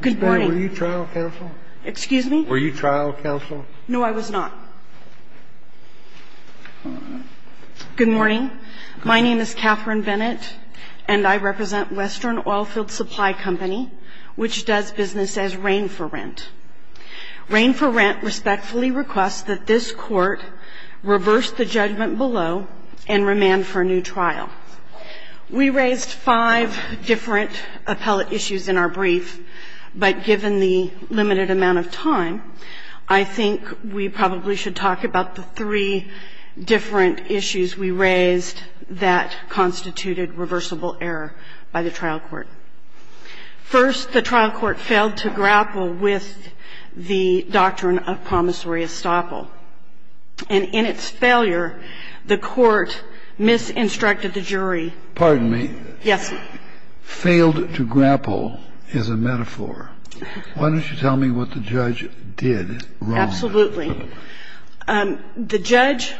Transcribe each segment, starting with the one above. Good morning. My name is Catherine Bennett, and I represent Western Oilfields Supply Company, which does business as Rain for Rent. Rain for Rent respectfully requests that this court reverse the judgment below and remand for a new trial. We raised five different appellate issues in our brief, and we're going to go through them one at a time. But given the limited amount of time, I think we probably should talk about the three different issues we raised that constituted reversible error by the trial court. First, the trial court failed to grapple with the doctrine of promissory estoppel. And in its failure, the court misinstructed the jury. Pardon me. Yes. Failed to grapple is a metaphor. Why don't you tell me what the judge did wrong? Absolutely. The judge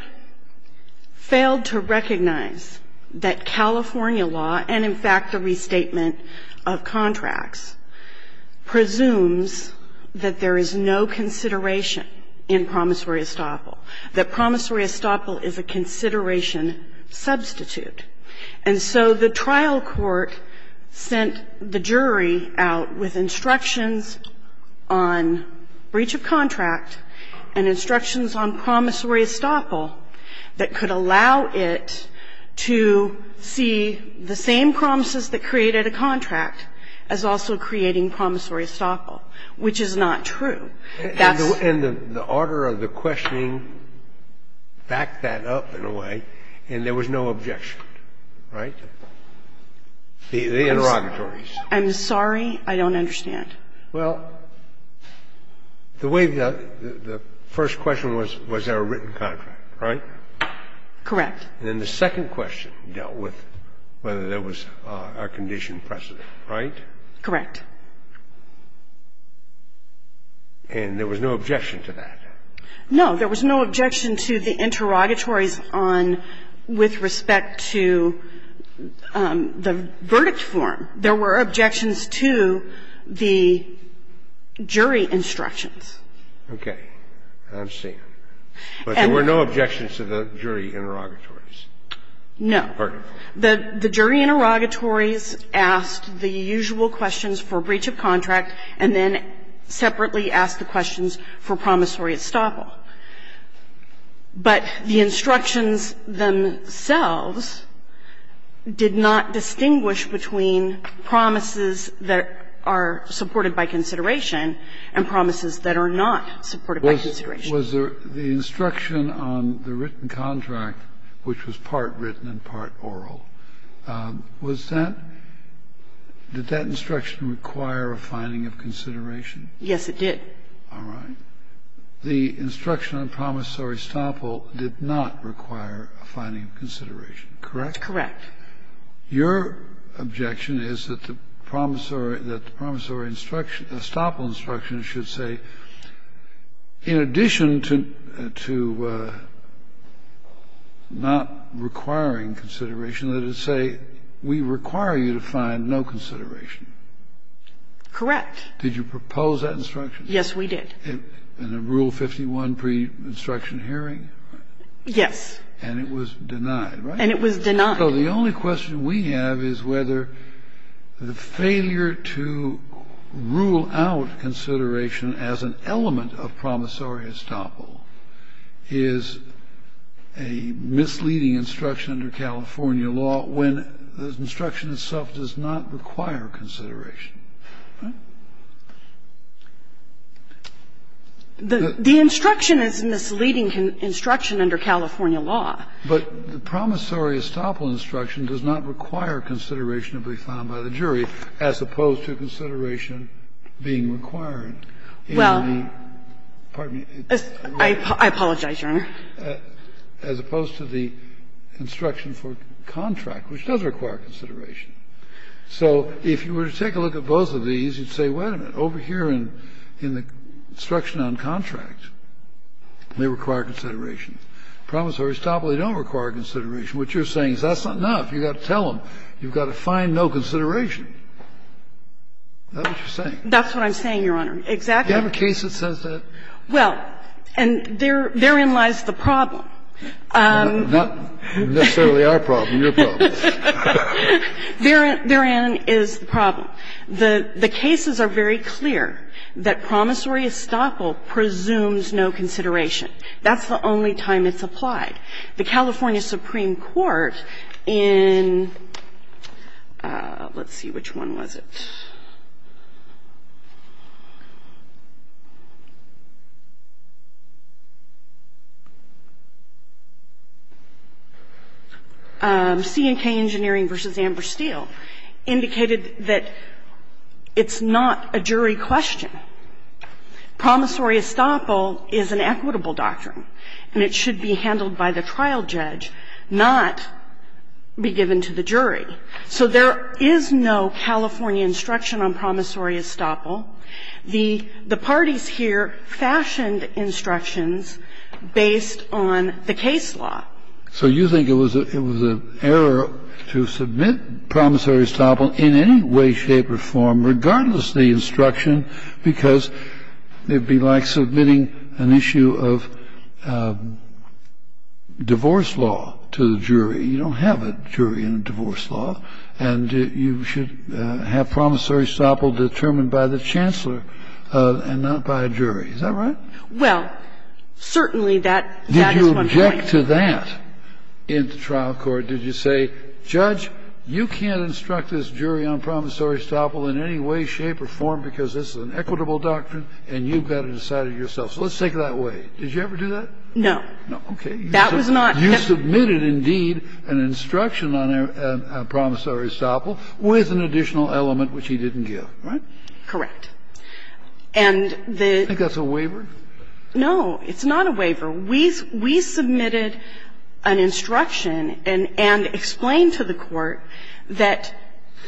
failed to recognize that California law and, in fact, the restatement of contracts presumes that there is no consideration in promissory estoppel, that promissory estoppel is a consideration substitute. And so the trial court sent the jury out with instructions on breach of contract and instructions on promissory estoppel that could allow it to see the same promises that created a contract as also creating promissory estoppel, which is not true. And the order of the questioning backed that up in a way, and there was no objection. Right? The interrogatories. I'm sorry. I don't understand. Well, the way the first question was, was there a written contract, right? Correct. Then the second question dealt with whether there was a condition precedent, right? Correct. And there was no objection to that? No. There was no objection to the interrogatories on with respect to the verdict form. There were objections to the jury instructions. Okay. I'm seeing. But there were no objections to the jury interrogatories? No. Pardon me. The jury interrogatories asked the usual questions for breach of contract and then separately asked the questions for promissory estoppel. But the instructions themselves did not distinguish between promises that are supported by consideration and promises that are not supported by consideration. Was there the instruction on the written contract, which was part written and part oral, was that, did that instruction require a finding of consideration? Yes, it did. All right. The instruction on promissory estoppel did not require a finding of consideration, correct? Correct. Your objection is that the promissory, that the promissory instruction, the estoppel instruction, should say, in addition to not requiring consideration, that it say we require you to find no consideration. Correct. Did you propose that instruction? Yes, we did. In the Rule 51 pre-instruction hearing? And it was denied, right? And it was denied. So the only question we have is whether the failure to rule out consideration as an element of promissory estoppel is a misleading instruction under California law when the instruction itself does not require consideration, right? The instruction is a misleading instruction under California law. But the promissory estoppel instruction does not require consideration to be found by the jury, as opposed to consideration being required in the, pardon I apologize, Your Honor. As opposed to the instruction for contract, which does require consideration. So if you were to take a look at both of these, you'd say, wait a minute, over here in the instruction on contract, they require consideration. Promissory estoppel, they don't require consideration. What you're saying is that's not enough. You've got to tell them you've got to find no consideration. Is that what you're saying? That's what I'm saying, Your Honor. Exactly. Do you have a case that says that? Well, and therein lies the problem. Not necessarily our problem, your problem. Therein is the problem. The cases are very clear that promissory estoppel presumes no consideration. That's the only time it's applied. The California Supreme Court in, let's see, which one was it? C&K Engineering v. Amber Steele indicated that it's not a jury question. Promissory estoppel is an equitable doctrine, and it should be handled by the trial judge, not be given to the jury. So there is no California instruction on promissory estoppel. The parties here fashioned instructions based on the case law. So you think it was an error to submit promissory estoppel in any way, shape or form, regardless of the instruction, because it would be like submitting an issue of divorce law to the jury. You don't have a jury in divorce law, and you should have promissory estoppel determined by the chancellor and not by a jury. Is that right? Well, certainly that is one point. Did you object to that in the trial court? Did you say, Judge, you can't instruct this jury on promissory estoppel in any way, shape or form, because this is an equitable doctrine and you've got to decide it yourself. So let's take it that way. Did you ever do that? No. No. Okay. That was not. You submitted, indeed, an instruction on promissory estoppel with an additional element, which he didn't give, right? Correct. And the -- Do you think that's a waiver? No. It's not a waiver. We submitted an instruction and explained to the Court that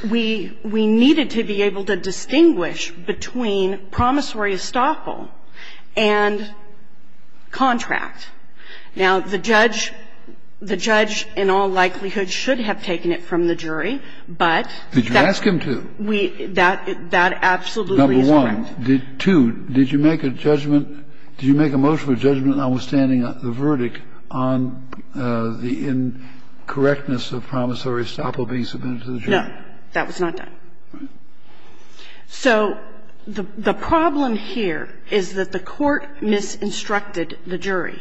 we needed to be able to distinguish between promissory estoppel and contract. Now, the judge, in all likelihood, should have taken it from the jury, but that's We didn't. We didn't. We didn't instruct him to. That absolutely is correct. Number one. Two, did you make a judgment, did you make a motion of judgment notwithstanding the verdict on the incorrectness of promissory estoppel being submitted to the jury? No. That was not done. So the problem here is that the Court misinstructed the jury.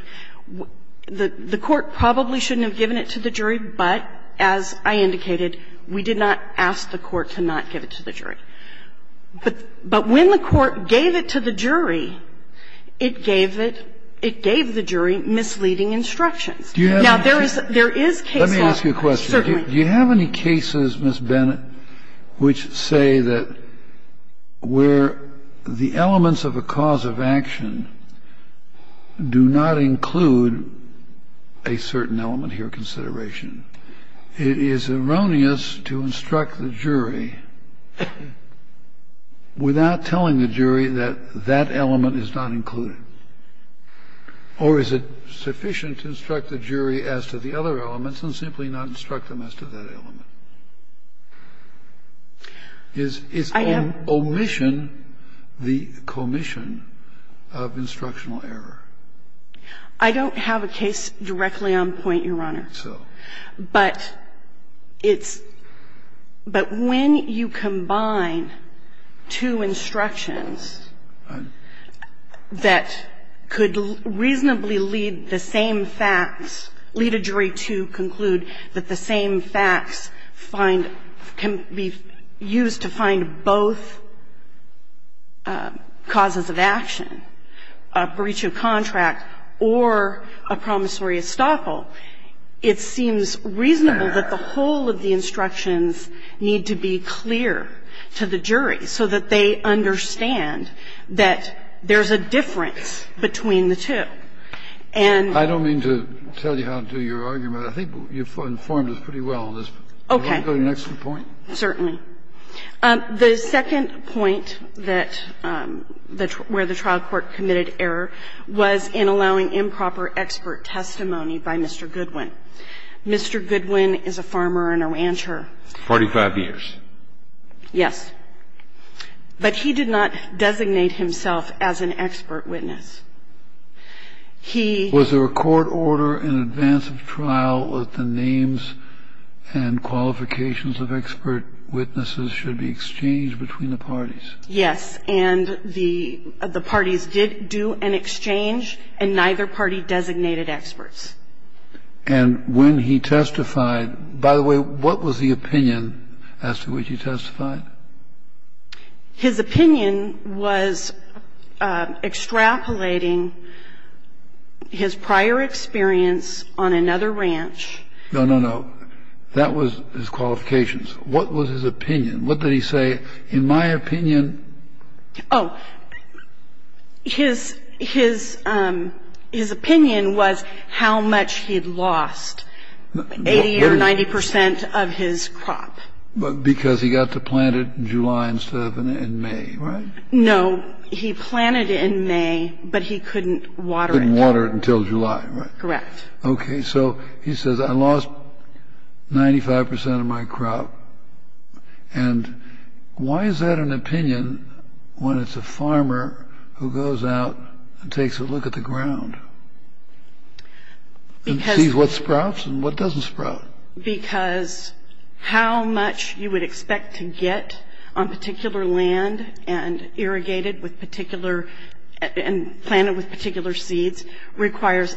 The Court probably shouldn't have given it to the jury, but as I indicated, we did not ask the Court to not give it to the jury. But when the Court gave it to the jury, it gave it – it gave the jury misleading instructions. Now, there is case law. Let me ask you a question. Certainly. Do you have any cases, Ms. Bennett, which say that where the elements of a cause of action do not include a certain element here of consideration? It is erroneous to instruct the jury without telling the jury that that element is not included. Or is it sufficient to instruct the jury as to the other elements and simply not instruct them as to that element? Is omission the commission of instructional error? I don't have a case directly on point, Your Honor. So. But it's – but when you combine two instructions that could reasonably lead the same facts, lead a jury to conclude that the same facts find – can be used to find both causes of action, a breach of contract or a promissory estoppel, it seems reasonable that the whole of the instructions need to be clear to the jury so that they understand that there's a difference between the two. And – I don't mean to tell you how to do your argument. I think you've informed us pretty well on this. Okay. Do you want to go to the next point? Certainly. The second point that – where the trial court committed error was in allowing improper expert testimony by Mr. Goodwin. Mr. Goodwin is a farmer and a rancher. 45 years. Yes. But he did not designate himself as an expert witness. He – Was there a court order in advance of the trial that the names and qualifications of expert witnesses should be exchanged between the parties? Yes. And the parties did do an exchange, and neither party designated experts. And when he testified – by the way, what was the opinion as to which he testified? His opinion was extrapolating his prior experience on another ranch. No, no, no. That was his qualifications. What was his opinion? What did he say? In my opinion – Oh. His – his opinion was how much he'd lost, 80 or 90 percent of his crop. Because he got to plant it in July instead of in May, right? No. He planted it in May, but he couldn't water it. Couldn't water it until July, right? Correct. Okay. So he says, I lost 95 percent of my crop. And why is that an opinion when it's a farmer who goes out and takes a look at the ground? Because – And sees what sprouts and what doesn't sprout. Because how much you would expect to get on particular land and irrigated with particular – and planted with particular seeds requires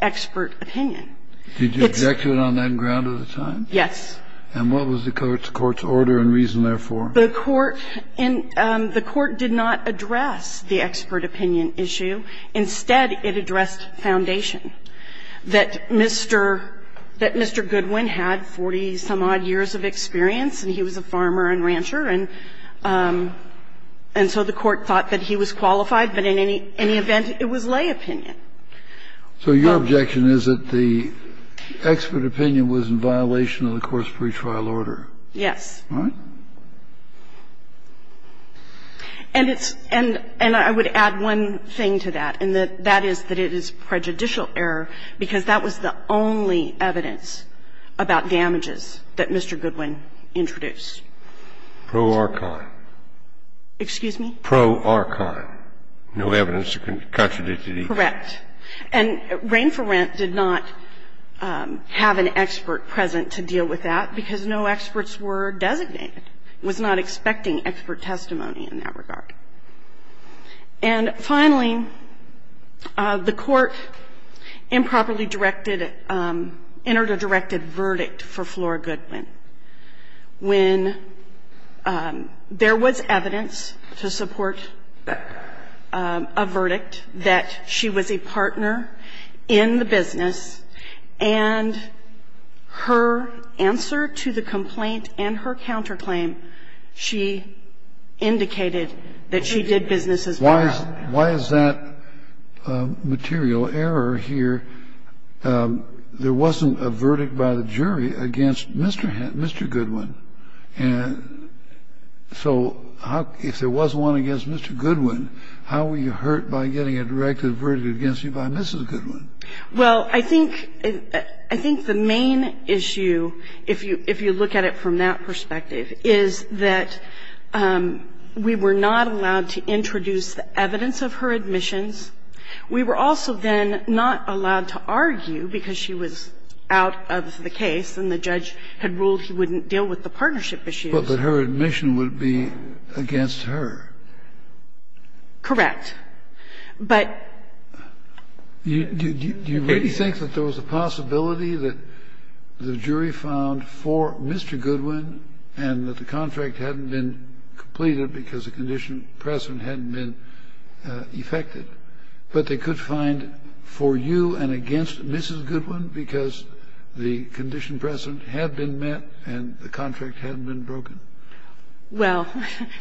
expert opinion. Did you object to it on that ground at the time? Yes. And what was the court's order and reason therefore? The court – the court did not address the expert opinion issue. The expert opinion issue was that Mr. Goodwin had 40-some-odd years of experience and he was a farmer and rancher. And so the court thought that he was qualified. But in any event, it was lay opinion. So your objection is that the expert opinion was in violation of the course pretrial order? All right. And it's – and I would add one thing to that, and that is that it is prejudicial error because that was the only evidence about damages that Mr. Goodwin introduced. Pro ar con. Excuse me? Pro ar con. No evidence to contradict it either. Correct. And Rain for Rent did not have an expert present to deal with that because no experts were designated. It was not expecting expert testimony in that regard. And finally, the court improperly directed – entered a directed verdict for Flora Goodwin when there was evidence to support a verdict that she was a partner in the She indicated that she did business as part of that. Why is that material error here? There wasn't a verdict by the jury against Mr. Goodwin. And so if there was one against Mr. Goodwin, how were you hurt by getting a directed verdict against you by Mrs. Goodwin? Well, I think – I think the main issue, if you look at it from that perspective, is that we were not allowed to introduce the evidence of her admissions. We were also then not allowed to argue because she was out of the case and the judge had ruled he wouldn't deal with the partnership issues. But her admission would be against her. Correct. But – Do you really think that there was a possibility that the jury found for Mr. Goodwin and that the contract hadn't been completed because the condition precedent hadn't been effected, but they could find for you and against Mrs. Goodwin because the condition precedent had been met and the contract hadn't been broken? Well,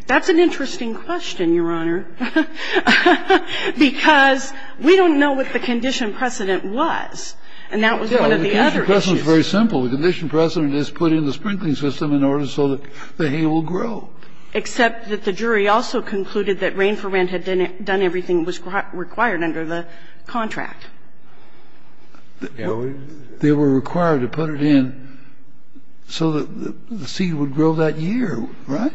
that's an interesting question, Your Honor. Because we don't know what the condition precedent was. And that was one of the other issues. The precedent is very simple. The condition precedent is put in the sprinkling system in order so that the hay will grow. Except that the jury also concluded that rain for rent had done everything required under the contract. They were required to put it in so that the seed would grow that year, right?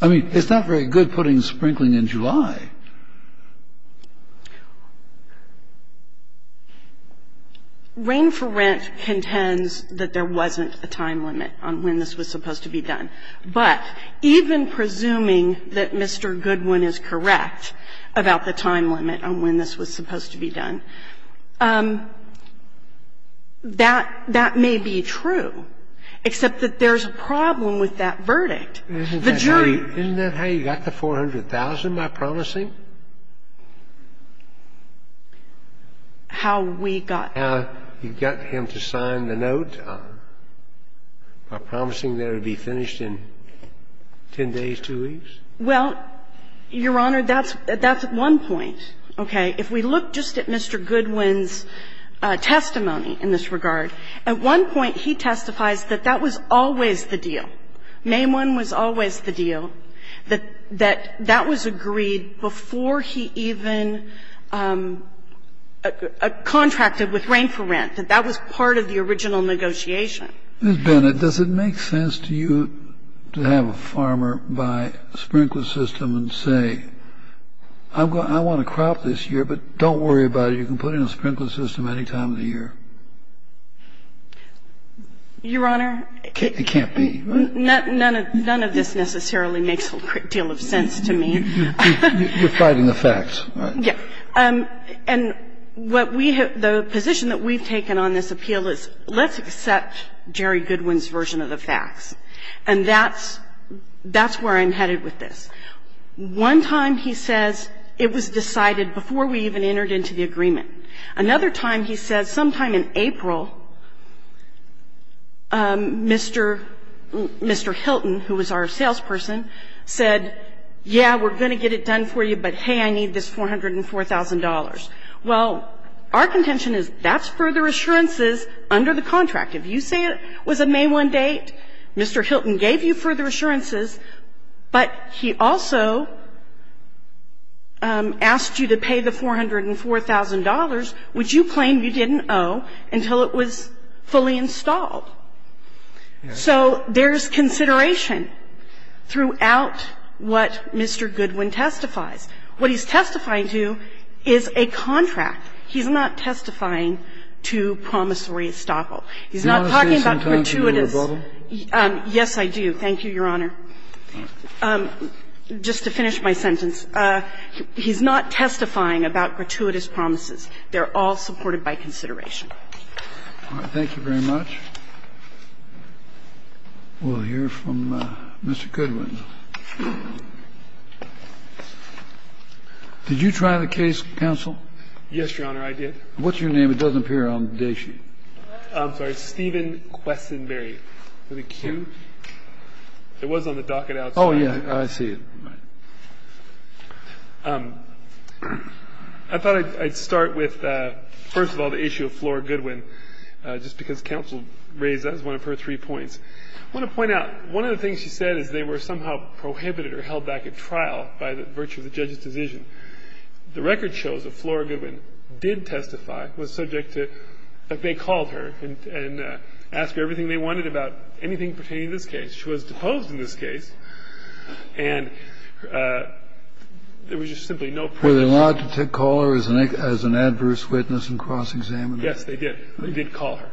I mean, it's not very good putting sprinkling in July. Rain for rent contends that there wasn't a time limit on when this was supposed to be done. But even presuming that Mr. Goodwin is correct about the time limit on when this was supposed to be done, that – that may be true, except that there's a problem with that verdict. The jury – Isn't that how you got the $400,000, by promising? How we got – How you got him to sign the note by promising that it would be finished in 10 days, two weeks? Well, Your Honor, that's at one point. Okay? If we look just at Mr. Goodwin's testimony in this regard, at one point he testifies that that was always the deal. May 1 was always the deal, that that was agreed before he even contracted with rain for rent, that that was part of the original negotiation. Ms. Bennett, does it make sense to you to have a farmer buy a sprinkler system and say, I want a crop this year, but don't worry about it. You can put in a sprinkler system any time of the year. Your Honor? It can't be, right? None of this necessarily makes a great deal of sense to me. You're fighting the facts, right? Yes. And what we have – the position that we've taken on this appeal is let's accept Jerry Goodwin's version of the facts. And that's where I'm headed with this. One time he says it was decided before we even entered into the agreement. Another time he says sometime in April, Mr. Hilton, who was our salesperson, said, yeah, we're going to get it done for you, but, hey, I need this $404,000. Well, our contention is that's further assurances under the contract. If you say it was a May 1 date, Mr. Hilton gave you further assurances, but he also asked you to pay the $404,000, which you claim you didn't owe, until it was fully installed. So there's consideration throughout what Mr. Goodwin testifies. What he's testifying to is a contract. He's not testifying to promissory estoppel. He's not talking about gratuitous. Do you want to spend some time to do a rebuttal? Yes, I do. Thank you, Your Honor. Just to finish my sentence, he's not testifying about gratuitous promises. They're all supported by consideration. All right. Thank you very much. We'll hear from Mr. Goodwin. Did you try the case, counsel? Yes, Your Honor, I did. What's your name? It doesn't appear on the day sheet. I'm sorry. Steven Quessenberry. I thought I'd start with, first of all, the issue of Flora Goodwin, just because counsel raised that as one of her three points. I want to point out, one of the things she said is they were somehow prohibited or held back at trial by the virtue of the judge's decision. The record shows that Flora Goodwin did testify, was subject to, in fact, they called her as an adverse witness and cross-examined her. Yes, they did. They did call her.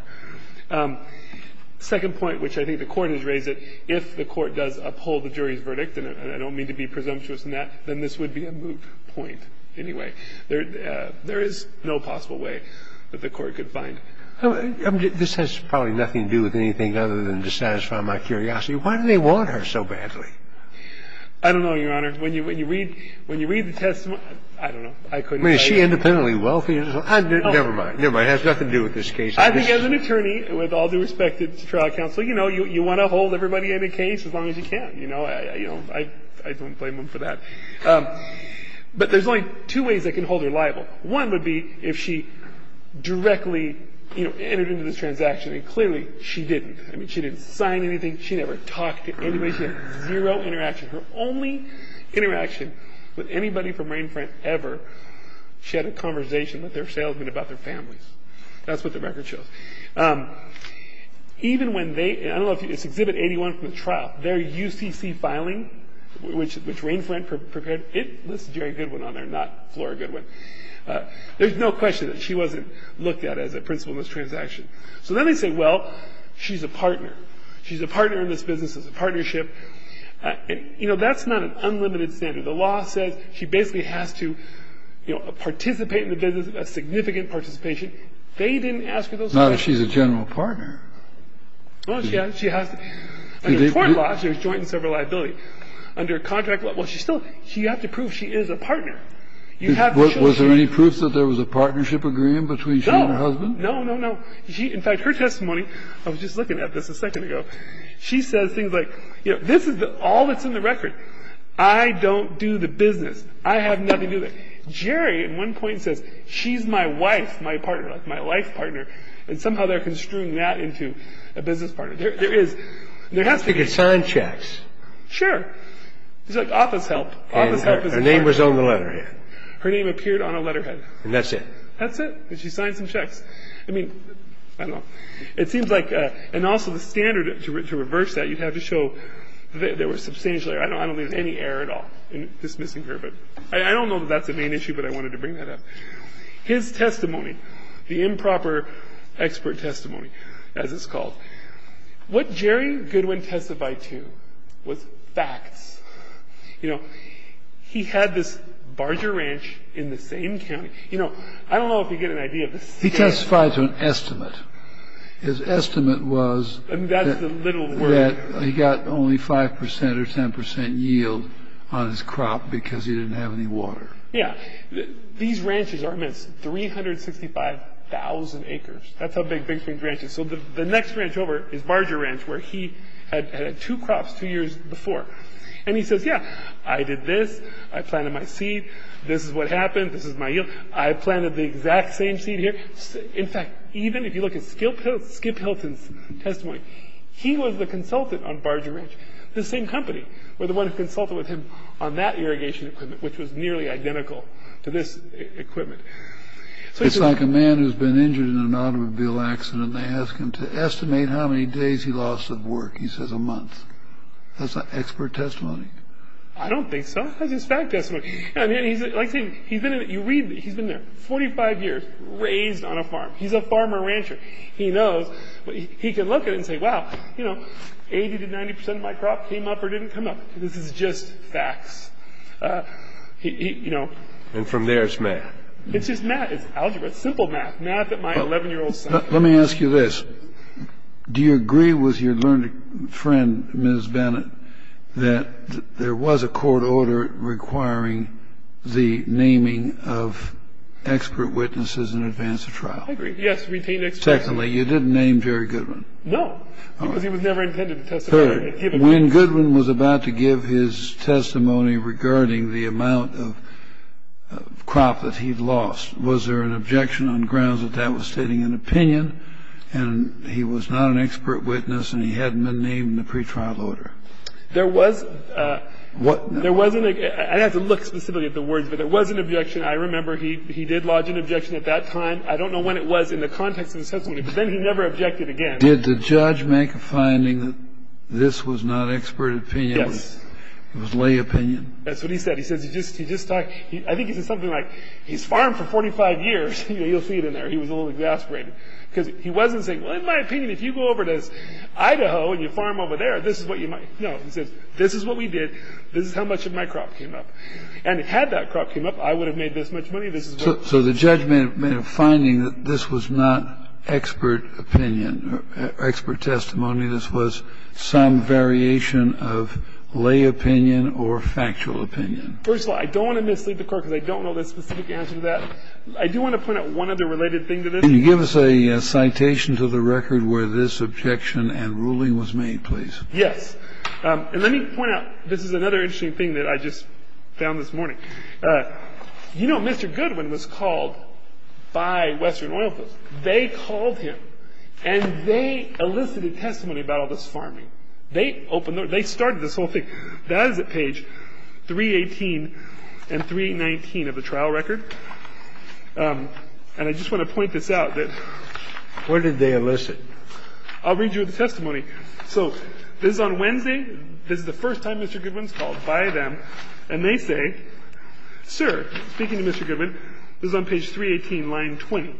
Second point, which I think the Court has raised, that if the Court does uphold the jury's verdict, and I don't mean to be presumptuous in that, then this would be a moot point anyway. There is no possible way that the Court could find. I don't know, Your Honor. When you read the testimony, I don't know. I couldn't say. I mean, is she independently wealthy? Never mind. Never mind. It has nothing to do with this case. I think as an attorney, with all due respect to trial counsel, you know, you want to hold everybody in a case as long as you can, you know. I don't blame them for that. But there's only two ways that can hold her liable. she didn't. I mean, she didn't. She didn't sign anything. She never talked to anybody. She had zero interaction. Her only interaction with anybody from Rainfront ever, she had a conversation with their salesman about their families. That's what the record shows. Even when they, I don't know if you, it's Exhibit 81 from the trial. Their UCC filing, which Rainfront prepared, it lists Jerry Goodwin on there, not Flora Goodwin. There's no question that she wasn't looked at as a principal in this transaction. So then they say, well, she's a partner. She's a partner in this business. It's a partnership. You know, that's not an unlimited standard. The law says she basically has to, you know, participate in the business, a significant participation. They didn't ask her those questions. Not if she's a general partner. Well, she has to. Under court law, she was joint in several liability. Under contract law, well, she's still, you have to prove she is a partner. You have to show she's a partner. Was there any proof that there was a partnership agreement between she and her husband? No, no, no. In fact, her testimony, I was just looking at this a second ago, she says things like, you know, this is all that's in the record. I don't do the business. I have nothing to do with it. Jerry at one point says she's my wife, my partner, like my life partner, and somehow they're construing that into a business partner. There is, there has to be. She could sign checks. Sure. It's like office help. Office help is important. And her name was on the letterhead. Her name appeared on a letterhead. And that's it. That's it. And she signed some checks. I mean, I don't know. It seems like, and also the standard to reverse that, you have to show there was substantial error. I don't believe there was any error at all in dismissing her. But I don't know that that's a main issue, but I wanted to bring that up. His testimony, the improper expert testimony, as it's called, what Jerry Goodwin testified to was facts. You know, he had this barger ranch in the same county. You know, I don't know if you get an idea. He testified to an estimate. His estimate was that he got only 5% or 10% yield on his crop because he didn't have any water. Yeah. These ranches are, I mean, it's 365,000 acres. That's how big Big Springs Ranch is. So the next ranch over is Barger Ranch, where he had two crops two years before. And he says, yeah, I did this. I planted my seed. This is what happened. This is my yield. I planted the exact same seed here. In fact, even if you look at Skip Hilton's testimony, he was the consultant on Barger Ranch, the same company, or the one who consulted with him on that irrigation equipment, which was nearly identical to this equipment. It's like a man who's been injured in an automobile accident. They ask him to estimate how many days he lost of work. He says a month. That's expert testimony. I don't think so. That's his fact testimony. You read, he's been there 45 years, raised on a farm. He's a farmer-rancher. He knows. He can look at it and say, wow, 80% to 90% of my crop came up or didn't come up. This is just facts. And from there, it's math. It's just math. It's algebra. It's simple math. Math that my 11-year-old son learned. Let me ask you this. Do you agree with your learned friend, Ms. Bennett, that there was a court order requiring the naming of expert witnesses in advance of trial? I agree. Yes, to retain expert witnesses. Secondly, you didn't name Jerry Goodwin. No, because he was never intended to testify. Third, when Goodwin was about to give his testimony regarding the amount of crop that he'd lost, was there an objection on grounds that that was stating an opinion and he was not an expert witness and he hadn't been named in the pretrial order? There was. I'd have to look specifically at the words, but there was an objection. I remember he did lodge an objection at that time. I don't know when it was in the context of the testimony, but then he never objected again. Did the judge make a finding that this was not expert opinion? Yes. It was lay opinion? That's what he said. He says he just talked. I think he said something like, he's farmed for 45 years. You'll see it in there. He was a little exasperated. Because he wasn't saying, well, in my opinion, if you go over to Idaho and you farm over there, this is what you might. No, he says, this is what we did. This is how much of my crop came up. And had that crop came up, I would have made this much money. So the judge made a finding that this was not expert opinion or expert testimony. This was some variation of lay opinion or factual opinion. First of all, I don't want to mislead the court because I don't know the specific answer to that. I do want to point out one other related thing to this. Can you give us a citation to the record where this objection and ruling was made, please? Yes. And let me point out, this is another interesting thing that I just found this morning. You know, Mr. Goodwin was called by Western oil fields. They called him. And they elicited testimony about all this farming. They started this whole thing. That is at page 318 and 319 of the trial record. And I just want to point this out. Where did they elicit? I'll read you the testimony. So this is on Wednesday. This is the first time Mr. Goodwin is called by them. And they say, sir, speaking to Mr. Goodwin, this is on page 318, line 20.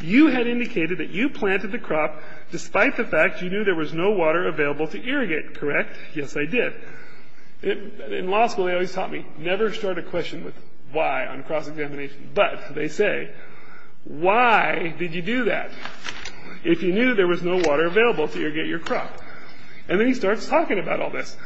You had indicated that you planted the crop despite the fact you knew there was no water available to irrigate, correct? Yes, I did. In law school, they always taught me, never start a question with why on a cross-examination. But they say, why did you do that if you knew there was no water available to irrigate your crop? And then he starts talking about all this.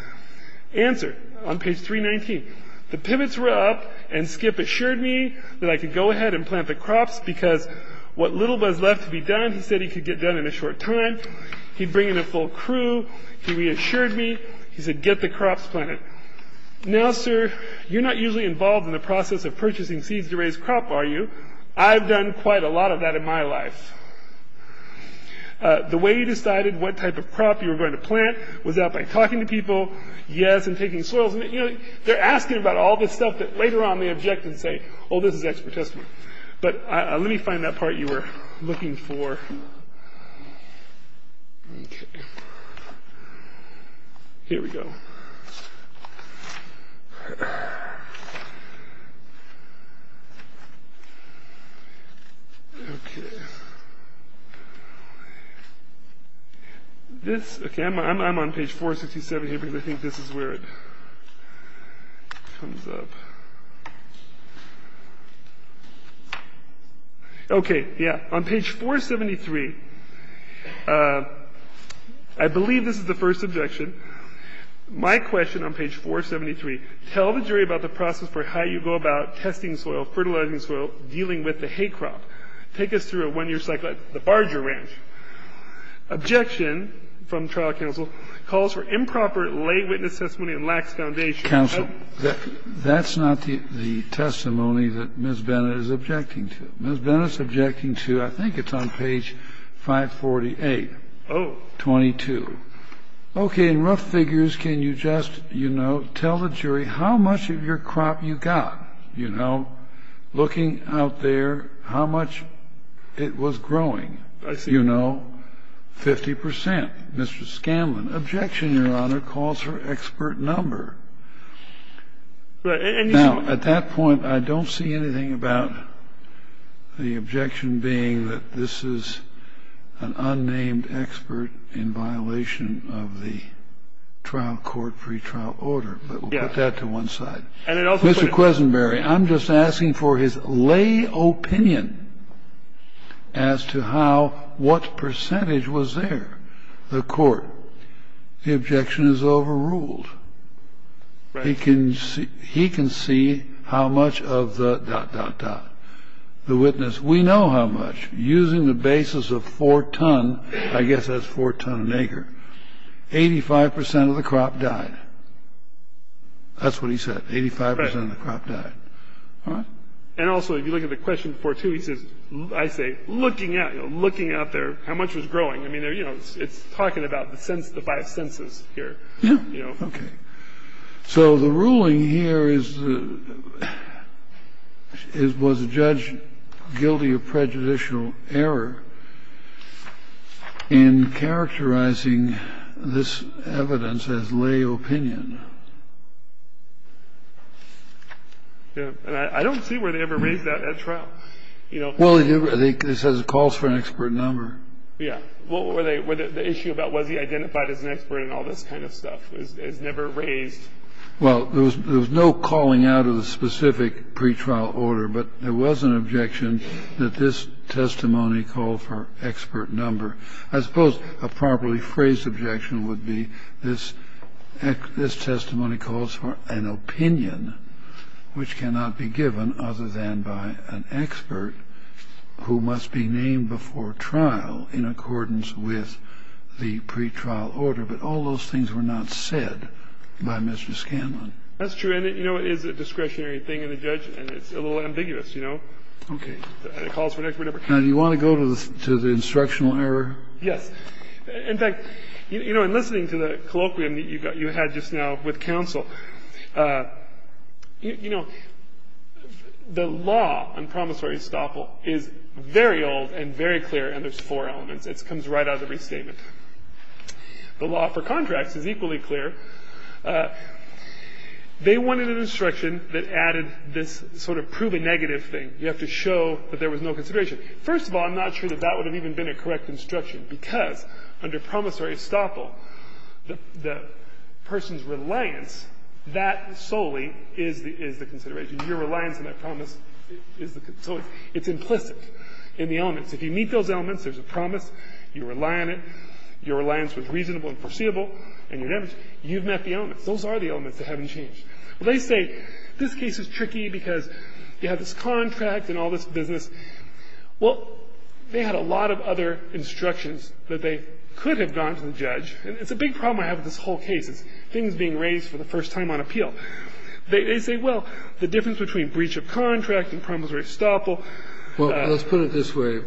Answer, on page 319. The pivots were up, and Skip assured me that I could go ahead and plant the crops because what little was left to be done, he said he could get done in a short time. He'd bring in a full crew. He reassured me. He said, get the crops planted. Now, sir, you're not usually involved in the process of purchasing seeds to raise crop, are you? I've done quite a lot of that in my life. The way you decided what type of crop you were going to plant was that by talking to people, yes, and taking soils. They're asking about all this stuff that later on they object and say, oh, this is expert testimony. But let me find that part you were looking for. Okay. Here we go. Okay. This, okay, I'm on page 467 here because I think this is where it comes up. Okay. Yeah. On page 473, I believe this is the first objection. My question on page 473, tell the jury about the process for how you go about testing soil, fertilizing soil, dealing with the hay crop. Take us through a one-year cycle at the Barger Ranch. Objection from trial counsel, calls for improper lay witness testimony and lacks foundation. Counsel, that's not the testimony that Ms. Bennett is objecting to. Ms. Bennett is objecting to, I think it's on page 548. Oh. 22. Okay. In rough figures, can you just, you know, tell the jury how much of your crop you got? You know, looking out there, how much it was growing? I see. You know, 50%. Okay. Mr. Scanlon, objection, Your Honor, calls for expert number. Now, at that point, I don't see anything about the objection being that this is an unnamed expert in violation of the trial court pretrial order. But we'll put that to one side. Mr. Quesenberry, I'm just asking for his lay opinion as to how, what percentage was there? The court, the objection is overruled. Right. He can see how much of the dot, dot, dot. The witness, we know how much. Using the basis of four ton, I guess that's four ton an acre, 85% of the crop died. That's what he said, 85% of the crop died. Right. All right? And also, if you look at the question before, too, he says, I say, looking out, you know, how much was growing. I mean, you know, it's talking about the five senses here. Yeah. Okay. So the ruling here is, was the judge guilty of prejudicial error in characterizing this evidence as lay opinion? Yeah. And I don't see where they ever raised that at trial. Well, they said it calls for an expert number. Yeah. What were they, the issue about was he identified as an expert and all this kind of stuff is never raised. Well, there was no calling out of the specific pretrial order, but there was an objection that this testimony called for expert number. I suppose a properly phrased objection would be this testimony calls for an opinion which cannot be given other than by an expert who must be named before trial in accordance with the pretrial order. But all those things were not said by Mr. Scanlon. That's true. And, you know, it is a discretionary thing, and the judge, and it's a little ambiguous, you know. Okay. And it calls for an expert number. Now, do you want to go to the instructional error? Yes. In fact, you know, in listening to the colloquium that you had just now with counsel, you know, the law on promissory estoppel is very old and very clear, and there's four elements. It comes right out of the restatement. The law for contracts is equally clear. They wanted an instruction that added this sort of proven negative thing. You have to show that there was no consideration. First of all, I'm not sure that that would have even been a correct instruction because under promissory estoppel, the person's reliance, that solely is the consideration. Your reliance on that promise is the consideration. It's implicit in the elements. If you meet those elements, there's a promise, you rely on it, your reliance was reasonable and foreseeable, and you've met the elements. Those are the elements that haven't changed. Well, they say this case is tricky because you have this contract and all this business. Well, they had a lot of other instructions that they could have gone to the judge. And it's a big problem I have with this whole case. It's things being raised for the first time on appeal. They say, well, the difference between breach of contract and promissory estoppel Well, let's put it this way.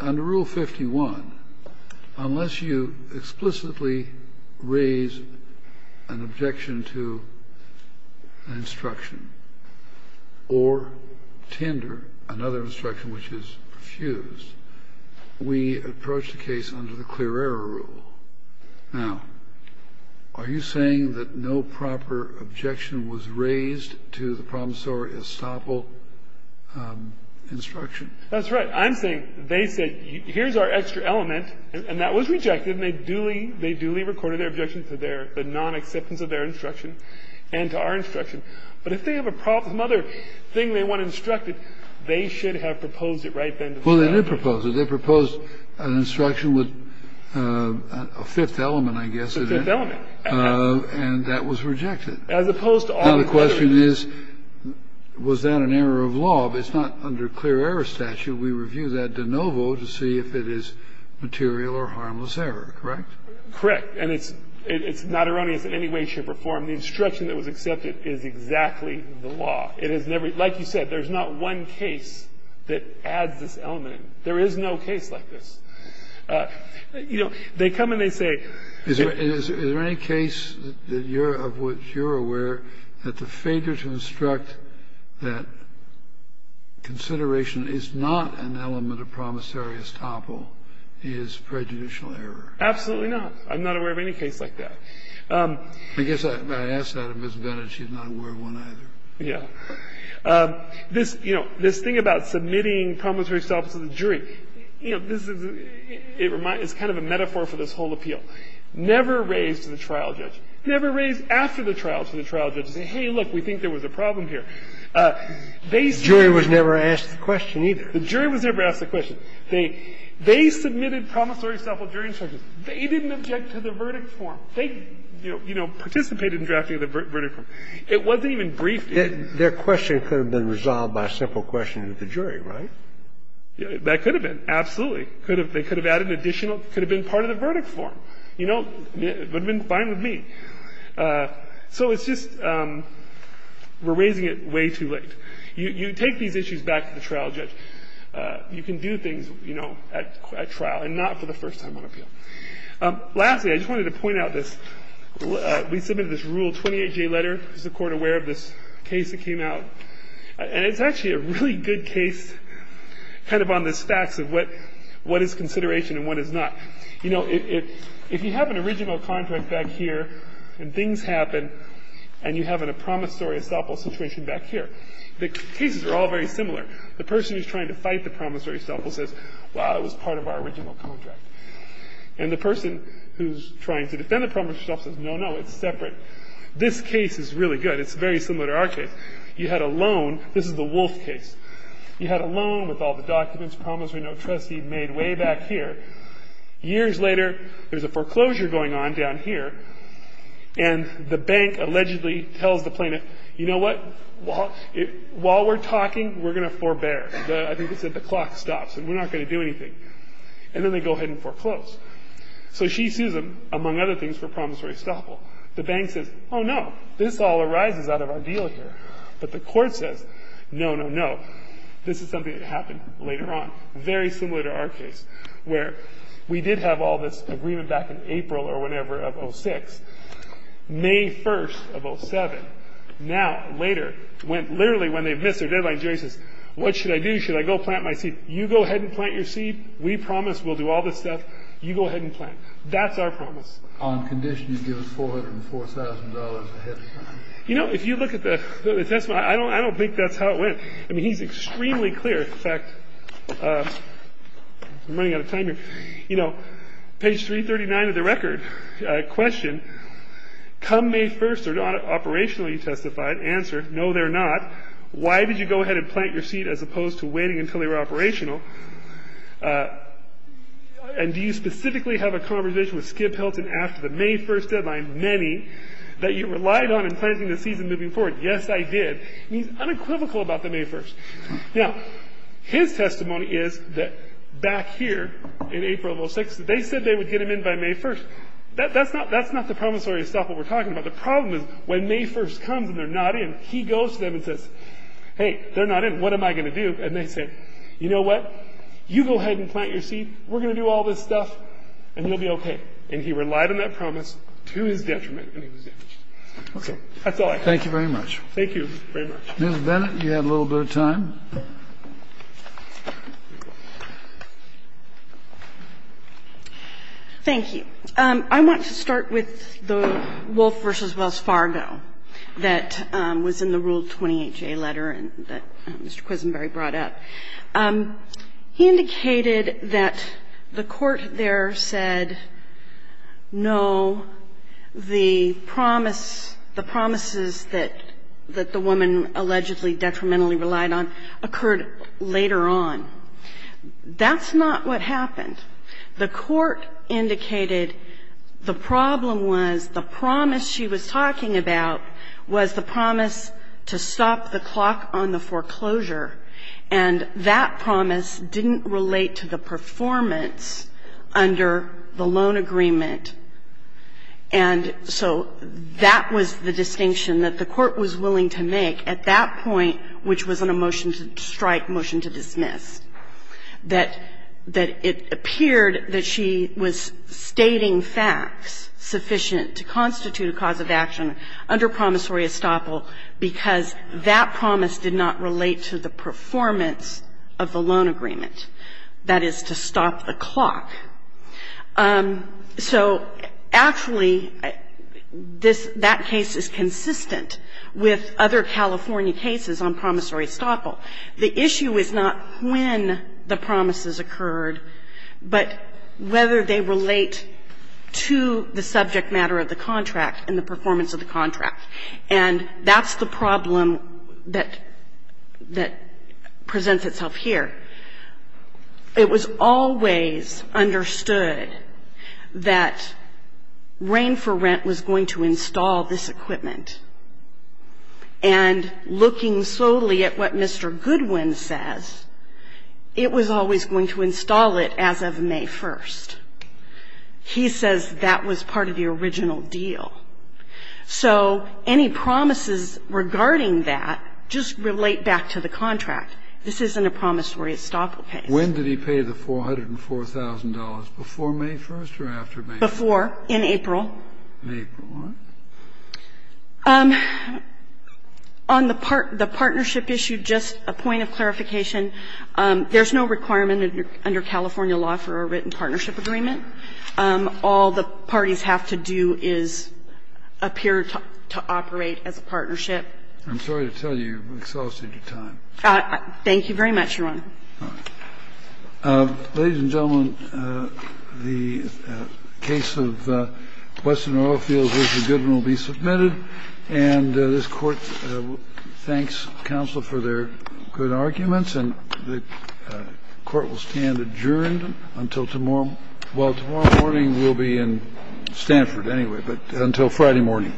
Under Rule 51, unless you explicitly raise an objection to instruction or tender another instruction, which is refused, we approach the case under the clear error rule. Now, are you saying that no proper objection was raised to the promissory estoppel instruction? That's right. I'm saying they said, here's our extra element, and that was rejected, and they duly recorded their objection to the nonacceptance of their instruction and to our instruction. But if they have some other thing they want instructed, they should have proposed it right then to the judge. Well, they did propose it. They proposed an instruction with a fifth element, I guess. A fifth element. And that was rejected. As opposed to all the others. Now, the question is, was that an error of law? But it's not under clear error statute. We review that de novo to see if it is material or harmless error, correct? Correct. And it's not erroneous in any way, shape or form. The instruction that was accepted is exactly the law. It is never – like you said, there's not one case that adds this element. There is no case like this. You know, they come and they say – Is there any case that you're – of which you're aware that the failure to instruct that consideration is not an element of promissory estoppel is prejudicial error? Absolutely not. I'm not aware of any case like that. I guess I asked that of Ms. Bennett. She's not aware of one either. Yeah. This, you know, this thing about submitting promissory estoppels to the jury, you know, this is – it reminds – it's kind of a metaphor for this whole appeal. Never raised to the trial judge. Never raised after the trial to the trial judge to say, hey, look, we think there was a problem here. They submitted – The jury was never asked the question either. The jury was never asked the question. They submitted promissory estoppel jury instructions. They didn't object to the verdict form. They, you know, participated in drafting the verdict form. It wasn't even briefed. Their question could have been resolved by a simple question to the jury, right? That could have been. Absolutely. They could have added an additional – could have been part of the verdict form. You know, it would have been fine with me. So it's just we're raising it way too late. You take these issues back to the trial judge. You can do things, you know, at trial and not for the first time on appeal. Lastly, I just wanted to point out this. We submitted this Rule 28J letter. Is the Court aware of this case that came out? And it's actually a really good case kind of on the stacks of what is consideration and what is not. You know, if you have an original contract back here and things happen and you have a promissory estoppel situation back here, the cases are all very similar. The person who's trying to fight the promissory estoppel says, well, it was part of our original contract. And the person who's trying to defend the promissory estoppel says, no, no, it's separate. This case is really good. It's very similar to our case. You had a loan. This is the Wolf case. You had a loan with all the documents, promissory note, trustee made way back here. Years later, there's a foreclosure going on down here, and the bank allegedly tells the plaintiff, you know what? While we're talking, we're going to forbear. I think they said the clock stops and we're not going to do anything. And then they go ahead and foreclose. So she sues him, among other things, for promissory estoppel. The bank says, oh, no, this all arises out of our deal here. But the court says, no, no, no, this is something that happened later on. Very similar to our case where we did have all this agreement back in April or whenever of 06, May 1st of 07. Now, later, literally when they've missed their deadline, Jerry says, what should I do? Should I go plant my seed? You go ahead and plant your seed. We promise we'll do all this stuff. You go ahead and plant. That's our promise. On condition you give us $404,000 ahead of time. You know, if you look at the testimony, I don't think that's how it went. I mean, he's extremely clear. In fact, I'm running out of time here. You know, page 339 of the record, question, come May 1st or not, operationally testified, answer, no, they're not. Why did you go ahead and plant your seed as opposed to waiting until they were operational? And do you specifically have a conversation with Skip Hilton after the May 1st deadline, many, that you relied on in planting the seeds and moving forward? Yes, I did. He's unequivocal about the May 1st. Now, his testimony is that back here in April of 06, they said they would get him in by May 1st. That's not the promissory stuff that we're talking about. The problem is when May 1st comes and they're not in, he goes to them and says, hey, they're not in, what am I going to do? And they say, you know what, you go ahead and plant your seed, we're going to do all this stuff, and you'll be okay. And he relied on that promise to his detriment, and he was damaged. So that's all I have. Thank you very much. Thank you very much. Ms. Bennett, you had a little bit of time. Thank you. I want to start with the Wolfe v. Wells Fargo that was in the Rule 28J letter and that Mr. Quisenberry brought up. He indicated that the court there said, no, the promise, the promises that the woman allegedly detrimentally relied on occurred later on. That's not what happened. The court indicated the problem was the promise she was talking about was the promise to stop the clock on the foreclosure, and that promise didn't relate to the performance under the loan agreement. And so that was the distinction that the court was willing to make at that point, which was on a motion to strike, motion to dismiss. That it appeared that she was stating facts sufficient to constitute a cause of action under promissory estoppel because that promise did not relate to the performance of the loan agreement, that is, to stop the clock. So actually, that case is consistent with other California cases on promissory estoppel. The issue is not when the promises occurred, but whether they relate to the subject matter of the contract and the performance of the contract. And that's the problem that presents itself here. It was always understood that Rain for Rent was going to install this equipment. And looking solely at what Mr. Goodwin says, it was always going to install it as of May 1st. He says that was part of the original deal. So any promises regarding that just relate back to the contract. This isn't a promissory estoppel case. Kennedy. When did he pay the $404,000, before May 1st or after May 1st? Before, in April. May 1st? On the partnership issue, just a point of clarification, there's no requirement under California law for a written partnership agreement. All the parties have to do is appear to operate as a partnership. I'm sorry to tell you you've exhausted your time. Thank you very much, Your Honor. Ladies and gentlemen, the case of Western Oilfields v. Goodwin will be submitted. And this Court thanks counsel for their good arguments. And the Court will stand adjourned until tomorrow. Well, tomorrow morning we'll be in Stanford anyway, but until Friday morning.